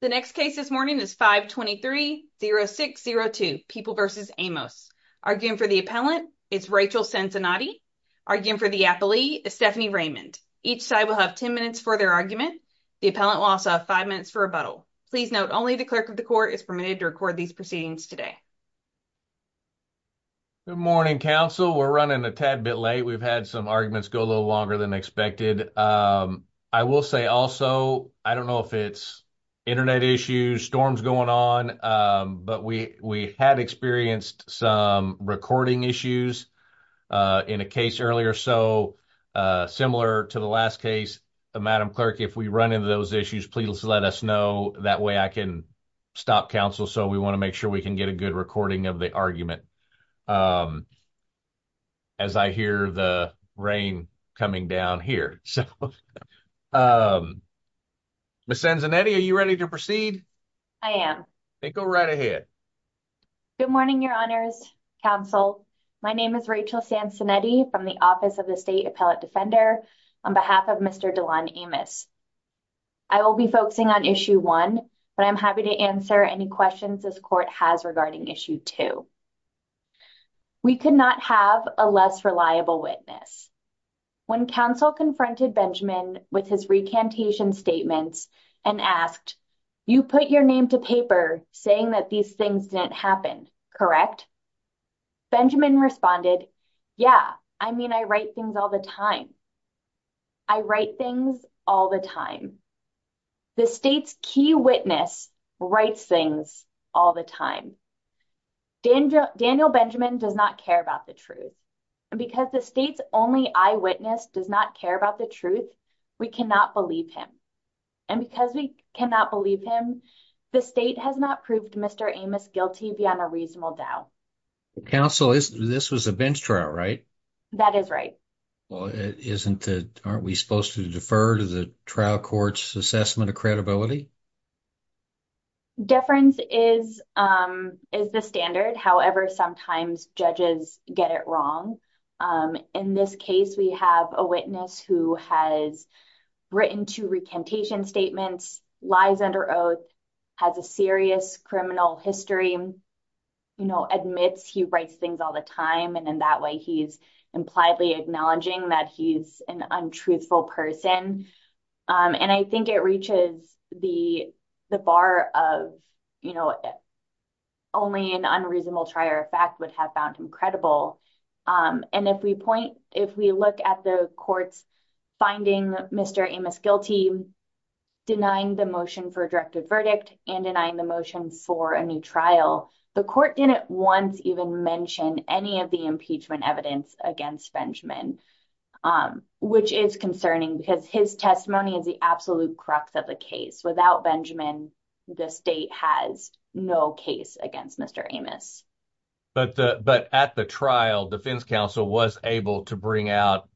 The next case this morning is 523-0602, People v. Amos. Arguing for the appellant is Rachel Cincinnati. Arguing for the appellee is Stephanie Raymond. Each side will have 10 minutes for their argument. The appellant will also have 5 minutes for rebuttal. Please note, only the clerk of the court is permitted to record these proceedings today. Good morning, counsel. We're running a tad bit late. We've had some arguments go a little longer than expected. I will say also, I don't know if it's internet issues, storms going on, but we had experienced some recording issues in a case earlier. So, similar to the last case, Madam Clerk, if we run into those issues, please let us know. That way I can stop counsel, so we want to make sure we can get a good recording of the argument. Good morning, your honors, counsel. My name is Rachel Cincinnati from the Office of the State Appellate Defender on behalf of Mr. Delon Amos. I will be focusing on Issue 1, but I'm happy to answer any questions this court has regarding Issue 2. We could not have a less reliable witness. When counsel confronted Benjamin with his recantation statements and asked, you put your name to paper saying that these things didn't happen, correct? Benjamin responded, yeah, I mean, I write things all the time. I write things all the time. The state's key witness writes things all the time. Daniel Benjamin does not care about the truth. And because the state's only eyewitness does not care about the truth, we cannot believe him. And because we cannot believe him, the state has not proved Mr. Amos guilty beyond a reasonable doubt. Counsel, this was a bench trial, right? That is right. Well, aren't we supposed to defer to the trial court's assessment of credibility? Deference is the standard. However, sometimes judges get it wrong. In this case, we have a witness who has written two recantation statements, lies under oath, has a serious criminal history, admits he writes things all the time. And in that way, he's impliedly acknowledging that he's an untruthful person. And I think it reaches the bar of only an unreasonable trier of fact would have found him credible. And if we point, if we look at the court's finding Mr. Amos guilty, denying the motion for a directed verdict and denying the motion for a new trial, the court didn't once even mention any of the impeachment evidence against Benjamin, which is concerning because his testimony is the absolute crux of the case. Without Benjamin, the state has no case against Mr. Amos. But at the trial, defense counsel was able to bring out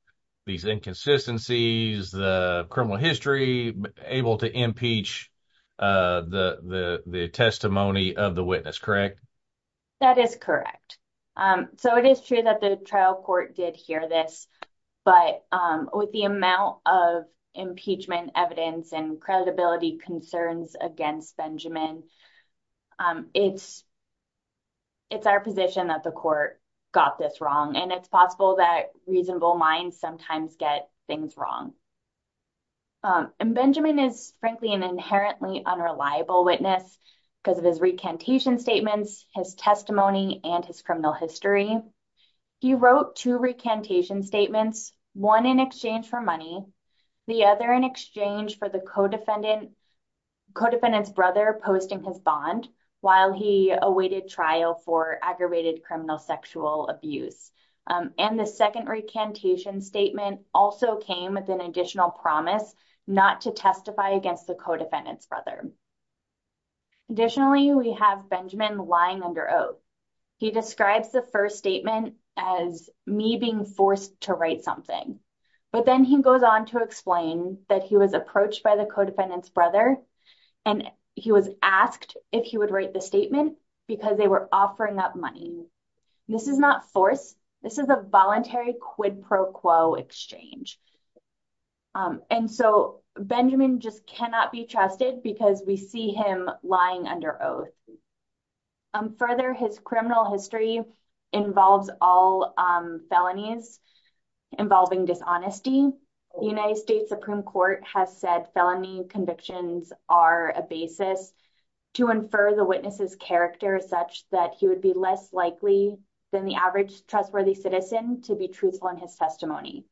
these inconsistencies, the criminal history, able to impeach the testimony of the witness, correct? That is correct. So it is true that the trial court did hear this. But with the amount of impeachment evidence and credibility concerns against Benjamin, it's our position that the court got this wrong. And it's possible that reasonable minds sometimes get things wrong. And Benjamin is frankly an inherently unreliable witness because of his recantation statements, his testimony, and his criminal history. He wrote two recantation statements, one in exchange for money, the other in exchange for the co-defendant's brother posting his bond while he awaited trial for aggravated criminal sexual abuse. And the second recantation statement also came with an additional promise not to testify against the co-defendant's brother. Additionally, we have Benjamin lying under oath. He describes the first statement as me being forced to write something. But then he goes on to explain that he was approached by the co-defendant's brother and he was asked if he would write the statement because they were offering up money. This is not force. This is a voluntary quid pro quo exchange. And so Benjamin just cannot be trusted because we see him lying under oath. Further, his criminal history involves all felonies involving dishonesty. The United States Supreme Court has said felony convictions are a basis to infer the witness's character such that he would be less likely than the average trustworthy citizen to be truthful in his testimony.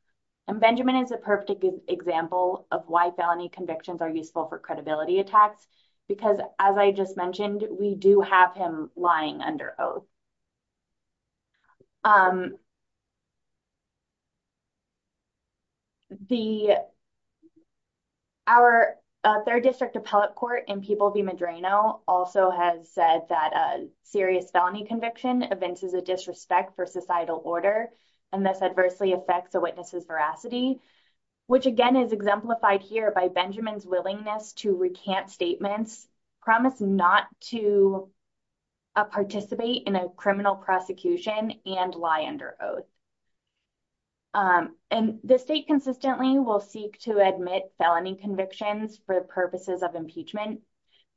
And Benjamin is a perfect example of why felony convictions are useful for credibility attacks because, as I just mentioned, we do have him lying under oath. Our third district appellate court in Peeble v. Medrano also has said that a serious felony conviction evinces a disrespect for societal order and thus adversely affects a witness's veracity, which again is exemplified here by Benjamin's willingness to recant statements, promise not to participate in a case where the defendant's brother or brother-in-law is not a witness. Criminal prosecution and lie under oath. And the state consistently will seek to admit felony convictions for purposes of impeachment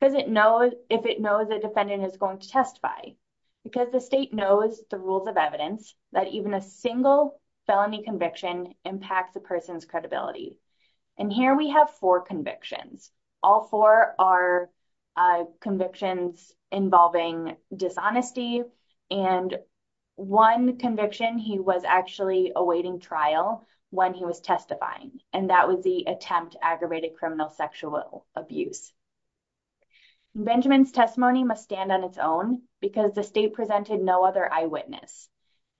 if it knows the defendant is going to testify because the state knows the rules of evidence that even a single felony conviction impacts a person's credibility. And here we have four convictions. All four are convictions involving dishonesty, and one conviction he was actually awaiting trial when he was testifying, and that was the attempt to aggravate a criminal sexual abuse. Benjamin's testimony must stand on its own because the state presented no other eyewitness.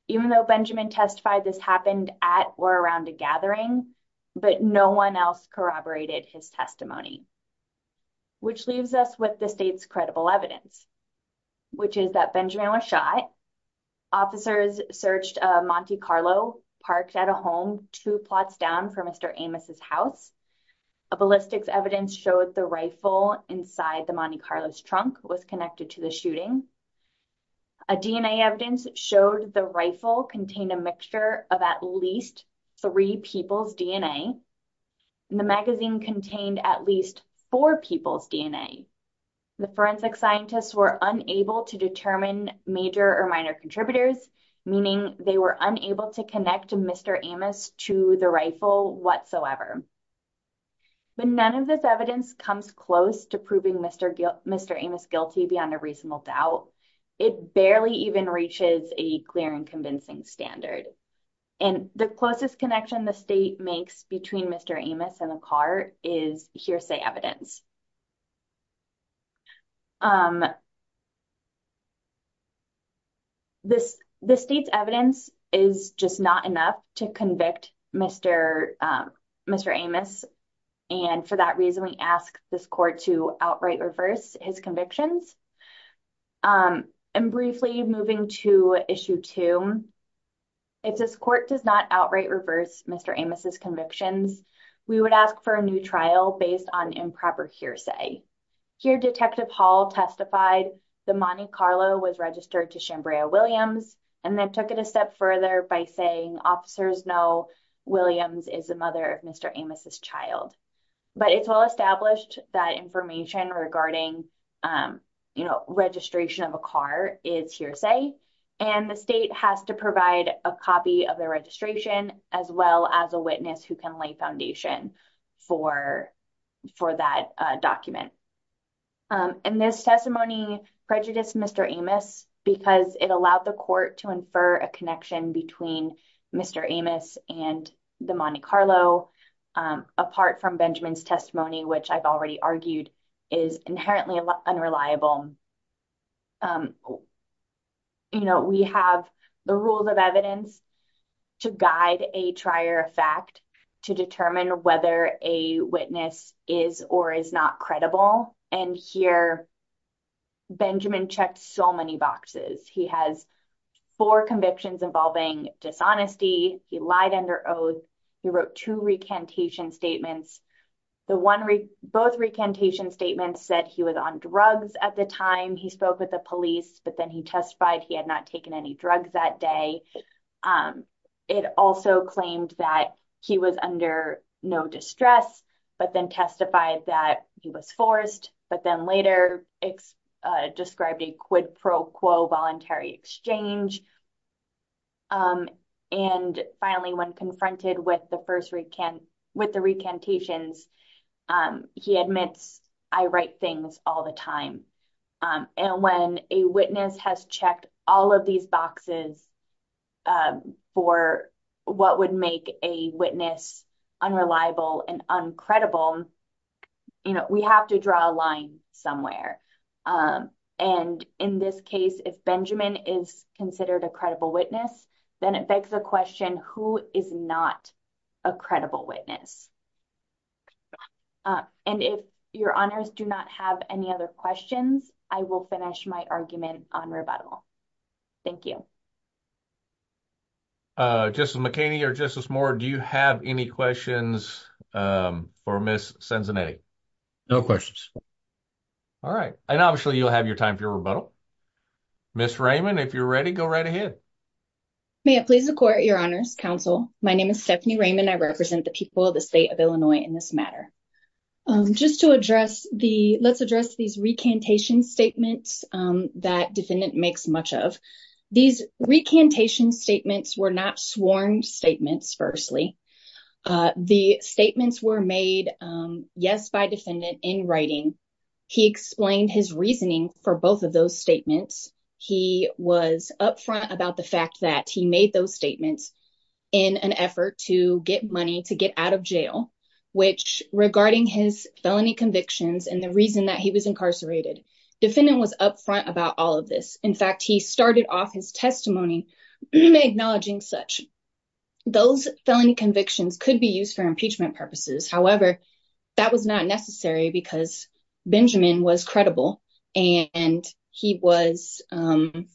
Even though Benjamin testified this happened at or around a gathering, but no one else corroborated his testimony, which leaves us with the state's credible evidence, which is that Benjamin was shot. Officers searched a Monte Carlo parked at a home, two plots down from Mr. Amos's house. A ballistics evidence showed the rifle inside the Monte Carlo's trunk was connected to the shooting. A DNA evidence showed the rifle contained a mixture of at least three people's DNA, and the magazine contained at least four people's DNA. The forensic scientists were unable to determine major or minor contributors, meaning they were unable to connect Mr. Amos to the rifle whatsoever. But none of this evidence comes close to proving Mr. Amos guilty beyond a reasonable doubt. It barely even reaches a clear and convincing standard, and the closest connection the state makes between Mr. Amos and the car is hearsay evidence. The state's evidence is just not enough to convict Mr. Amos, and for that reason we ask this court to outright reverse his convictions. And briefly moving to issue two, if this court does not outright reverse Mr. Amos's convictions, we would ask for a new trial based on improper hearsay. Here Detective Hall testified the Monte Carlo was registered to Shambraya Williams, and then took it a step further by saying officers know Williams is the mother of Mr. Amos's child. But it's well established that information regarding registration of a car is hearsay, and the state has to provide a copy of the registration as well as a witness who can lay the foundation for that document. And this testimony prejudiced Mr. Amos because it allowed the court to infer a connection between Mr. Amos and the Monte Carlo apart from Benjamin's testimony, which I've already argued is inherently unreliable. You know, we have the rules of evidence to guide a trier of fact to determine whether a witness is or is not credible, and here Benjamin checked so many boxes. He has four convictions involving dishonesty, he lied under oath, he wrote two recantation statements. Both recantation statements said he was on drugs at the time, he spoke with the police, but then he testified he had not taken any drugs that day. It also claimed that he was under no distress, but then testified that he was forced, but then later described a quid pro quo voluntary exchange. And finally, when confronted with the first recant, with the recantations, he admits, I write things all the time. And when a witness has checked all of these boxes for what would make a witness unreliable and uncredible, you know, we have to draw a line somewhere. And in this case, if Benjamin is considered a credible witness, then it begs the question, who is not a credible witness? And if your honors do not have any other questions, I will finish my argument on rebuttal. Thank you. Uh, Justice McHaney or Justice Moore, do you have any questions for Ms. Cenzanetti? No questions. All right. And obviously you'll have your time for your rebuttal. Ms. Raymond, if you're ready, go right ahead. May it please the court, your honors, counsel, my name is Stephanie Raymond. I represent the people of the state of Illinois in this matter. Just to address the, let's address these recantation statements, um, that defendant makes much of. These recantation statements were not sworn statements, firstly. Uh, the statements were made, um, yes, by defendant in writing. He explained his reasoning for both of those statements. He was upfront about the fact that he made those statements in an effort to get money to get out of jail, which regarding his felony convictions and the reason that he was incarcerated. Defendant was upfront about all of this. In fact, he started off his testimony acknowledging such those felony convictions could be used for impeachment purposes. However, that was not necessary because Benjamin was credible and he was, um,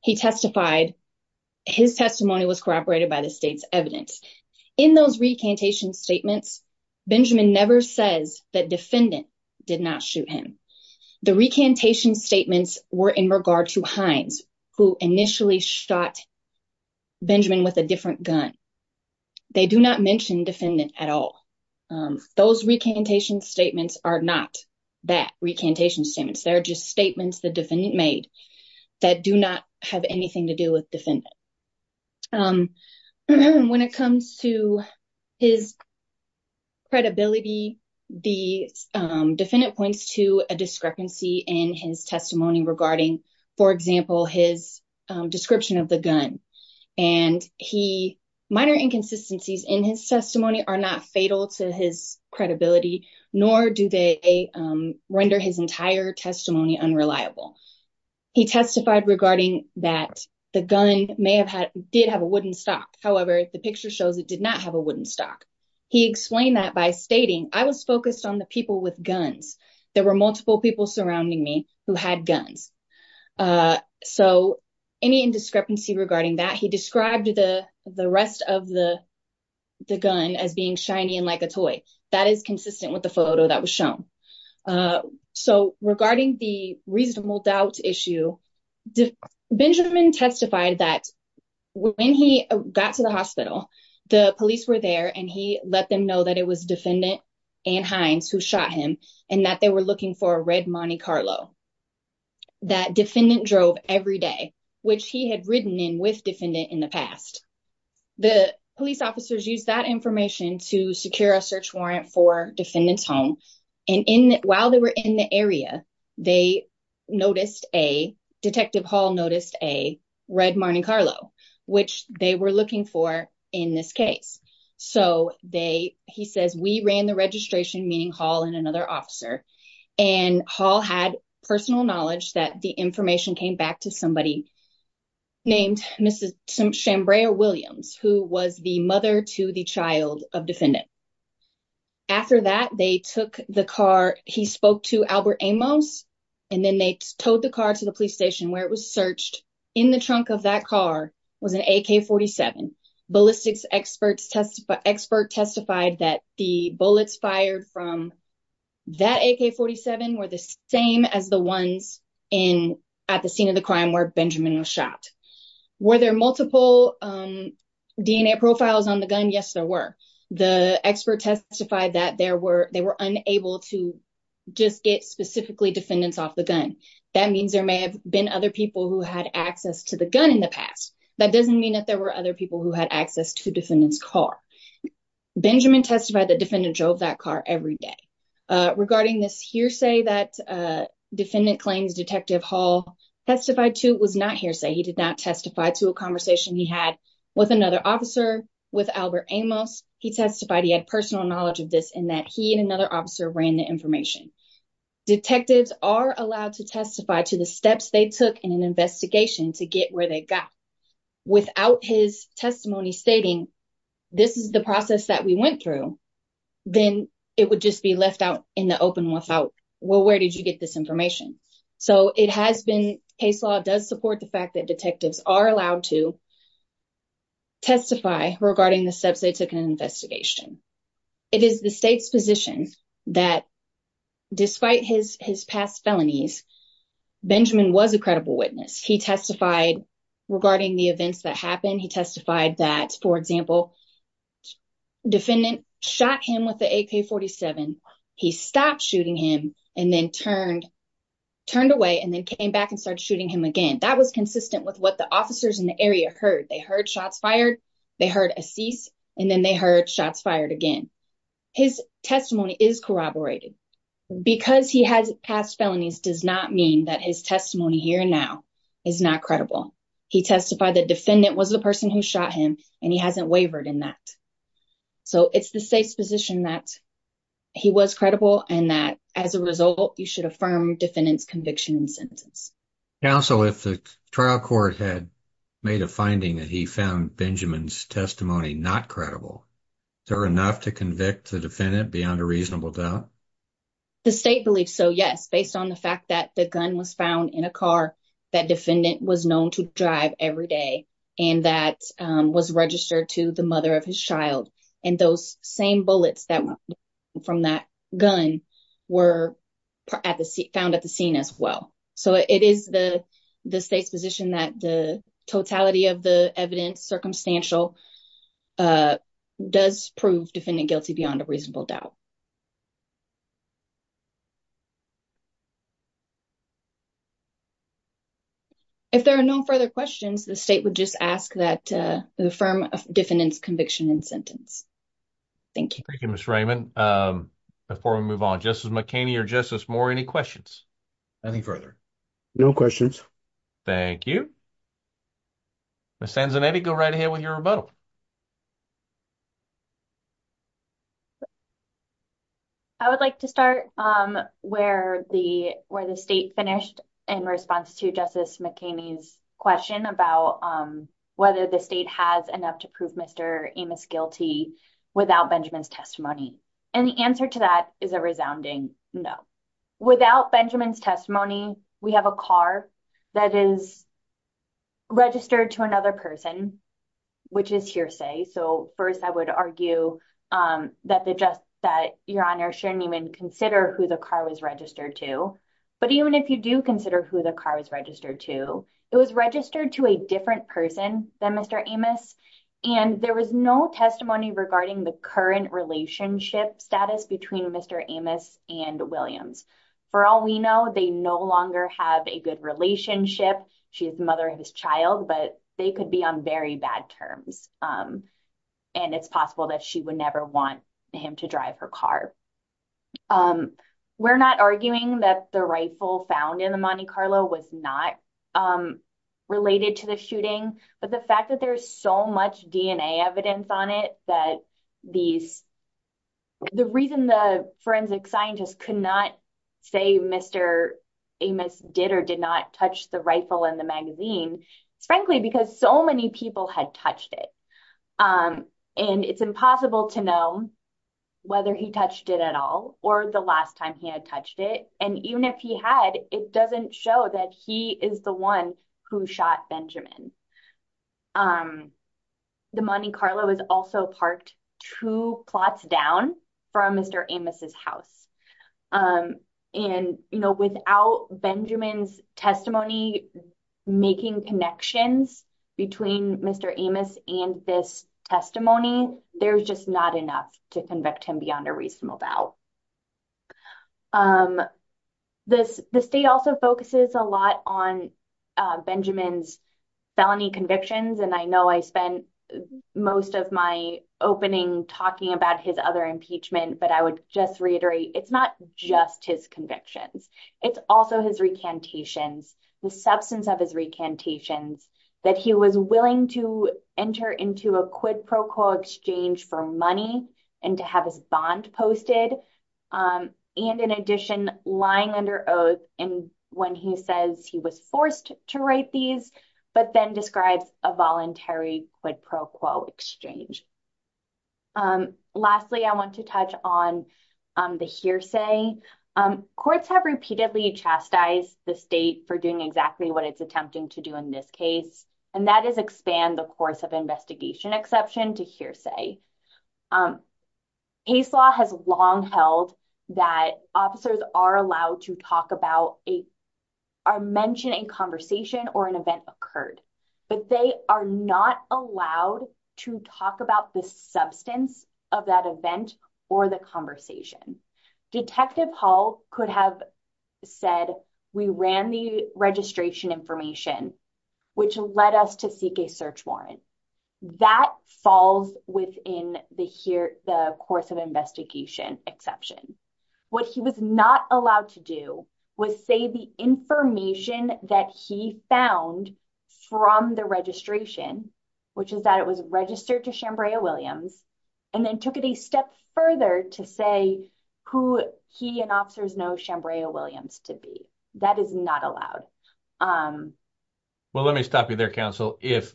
he testified, his testimony was corroborated by the state's evidence. In those recantation statements, Benjamin never says that defendant did not shoot him. The recantation statements were in regard to Hines who initially shot Benjamin with a different gun. They do not mention defendant at all. Um, those recantation statements are not that recantation statements. They're just statements the defendant made that do not have anything to do with defendant. Um, when it comes to his credibility, the defendant points to a discrepancy in his testimony regarding, for example, his, um, description of the gun. And he, minor inconsistencies in his testimony are not fatal to his credibility, nor do they, um, render his entire testimony unreliable. He testified regarding that the gun may have had, did have a wooden stock. However, the picture shows it did not have a wooden stock. He explained that by stating, I was focused on the people with guns. There were multiple people surrounding me who had guns. Uh, so any indiscrepancy regarding that, he described the, the rest of the, the gun as being shiny and like that is consistent with the photo that was shown. Uh, so regarding the reasonable doubt issue, Benjamin testified that when he got to the hospital, the police were there and he let them know that it was defendant and Hines who shot him and that they were looking for a red Monte Carlo. That defendant drove every day, which he had ridden in with defendant in the past. The police officers use that information to secure a search warrant for defendants home. And in the, while they were in the area, they noticed a detective hall noticed a red Monte Carlo, which they were looking for in this case. So they, he says, we ran the registration meeting hall and another officer and hall had personal knowledge that the information came back to somebody named Mrs. Chambray or Williams, who was the mother to the child of defendant. After that, they took the car. He spoke to Albert Amos, and then they towed the car to the police station where it was searched in the trunk of that car was an AK 47 ballistics experts test, but expert testified that the bullets fired from that AK 47 were the same as the ones in at the scene of the crime where Benjamin was shot. Were there multiple DNA profiles on the gun? Yes, there were. The expert testified that there were, they were unable to just get specifically defendants off the gun. That means there may have been other people who had access to the gun in the past. That doesn't mean that there were other people who had access to defendants car. Benjamin testified that defendant drove that car every day. Regarding this hearsay that defendant claims detective hall testified to was not hearsay. He did not testify to a conversation he had with another officer with Albert Amos. He testified he had personal knowledge of this in that he and another officer ran the information. Detectives are allowed to testify to the steps they took in an investigation to get where they got without his testimony stating, this is the process that we went through. Then it would just be left out in the open without, well, where did you get this information? So it has been, case law does support the fact that detectives are allowed to testify regarding the steps they took in an investigation. It is the state's position that despite his past felonies, Benjamin was a credible witness. He testified regarding the events that happened. He testified that, for example, defendant shot him with the AK-47. He stopped shooting him and then turned away and then came back and started shooting him again. That was consistent with what the officers in the area heard. They heard shots fired, they heard a cease, and then they heard shots fired again. His testimony is corroborated. Because he has past felonies does not mean that his testimony here now is not credible. He testified that defendant was the person who shot him and he hasn't wavered in that. So it's the state's position that he was credible and that, as a result, you should affirm defendant's conviction and sentence. Counsel, if the trial court had made a finding that he found Benjamin's testimony not credible, is there enough to convict the defendant beyond a reasonable doubt? The state believes so, yes, based on the fact that the gun was found in a car that defendant was known to drive every day and that was registered to the mother of his child. And those same bullets that were from that gun were found at the scene as well. So it is the state's position that the totality of the evidence, circumstantial, does prove defendant guilty beyond a reasonable doubt. If there are no further questions, the state would just ask that you affirm defendant's conviction and sentence. Thank you. Thank you, Ms. Raymond. Before we move on, Justice McHaney or Justice Moore, any questions? Any further? No questions. Thank you. Ms. Sanzanetti, go right ahead with your rebuttal. I would like to start where the state finished in response to Justice McHaney's question about whether the state has enough to prove Mr. Amos guilty without Benjamin's testimony. And the answer to that is a resounding no. Without Benjamin's testimony, we have a car that is registered to another person, which is hearsay. So first, I would argue that Your Honor shouldn't even consider who the car was registered to. But even if you do consider who the car was registered to, it was registered to a different person than Mr. Amos. And there was no testimony regarding the current relationship status between Mr. Amos and Williams. For all we know, they no longer have a good relationship. She is the mother of his child, but they could be on very bad terms. And it's possible that she would never want him to drive her car. We're not arguing that the rifle found in the Monte Carlo was not related to the shooting. But the fact that there's so much DNA evidence on it, that the reason the forensic scientists could not say Mr. Amos did or did not touch the rifle in the magazine, it's frankly because so many people had touched it. And it's impossible to know whether he touched it at all, or the last time he had touched it. And even if he had, it doesn't show that he is the one who shot Benjamin. The Monte Carlo is also parked two plots down from Mr. Amos's house. And, you know, without Benjamin's testimony, making connections between Mr. Amos and this testimony, there's just not enough to convict him beyond a reasonable doubt. The state also focuses a lot on Benjamin's felony convictions. And I know I spent most of my opening talking about his other impeachment, but I would just reiterate, it's not just his convictions. It's also his recantations, the substance of his recantations, that he was willing to enter into a quid pro quo exchange for money and to have his bond posted. And in addition, lying under oath when he says he was forced to write these, but then describes a voluntary quid pro quo exchange. Lastly, I want to touch on the hearsay. Courts have repeatedly chastised the state for doing exactly what it's attempting to do in this case, and that is expand the course of investigation exception to hearsay. Um, case law has long held that officers are allowed to talk about a, or mention a conversation or an event occurred, but they are not allowed to talk about the substance of that event or the conversation. Detective Hall could have said, we ran the registration information, which led us to a search warrant that falls within the here, the course of investigation exception. What he was not allowed to do was say the information that he found from the registration, which is that it was registered to Shambraya Williams, and then took it a step further to say who he and officers know Shambraya Williams to be. That is not allowed. Well, let me stop you there, counsel. If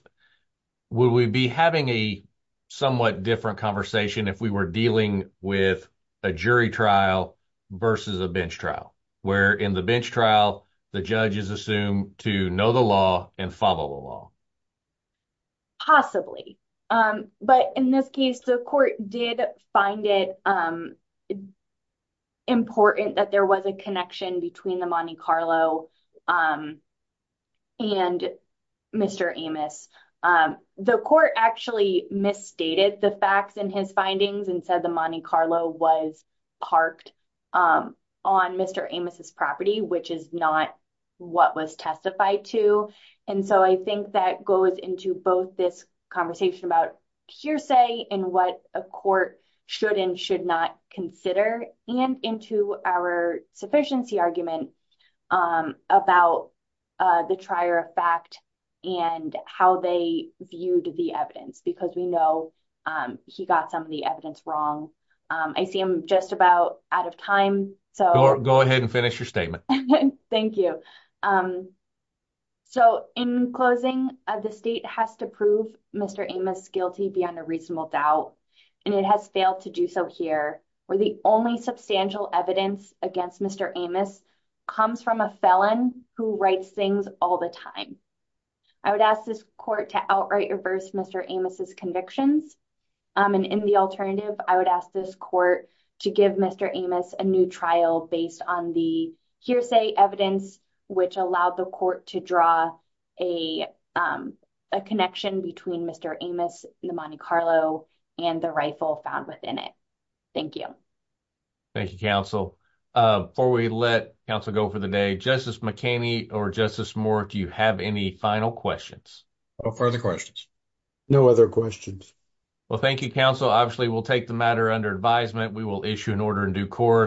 would we be having a somewhat different conversation if we were dealing with a jury trial versus a bench trial, where in the bench trial, the judge is assumed to know the law and follow the law? Possibly. But in this case, the court did find it important that there was a connection between the Monte Carlo and Mr. Amos. The court actually misstated the facts in his findings and said the Monte Carlo was parked on Mr. Amos's property, which is not what was testified to. And so I think that goes into both this conversation about hearsay and what a court should and should not consider and into our sufficiency argument about the trier of fact and how they viewed the evidence, because we know he got some of the evidence wrong. I see him just So in closing, the state has to prove Mr. Amos guilty beyond a reasonable doubt, and it has failed to do so here, where the only substantial evidence against Mr. Amos comes from a felon who writes things all the time. I would ask this court to outright reverse Mr. Amos's convictions. And in the alternative, I would ask this court to give Mr. Amos a new trial based on hearsay evidence, which allowed the court to draw a connection between Mr. Amos, the Monte Carlo, and the rifle found within it. Thank you. Thank you, counsel. Before we let counsel go for the day, Justice McHaney or Justice Moore, do you have any final questions? No further questions. No other questions. Well, thank you, counsel. Obviously, we'll take the matter under advisement. We will issue an order in due course.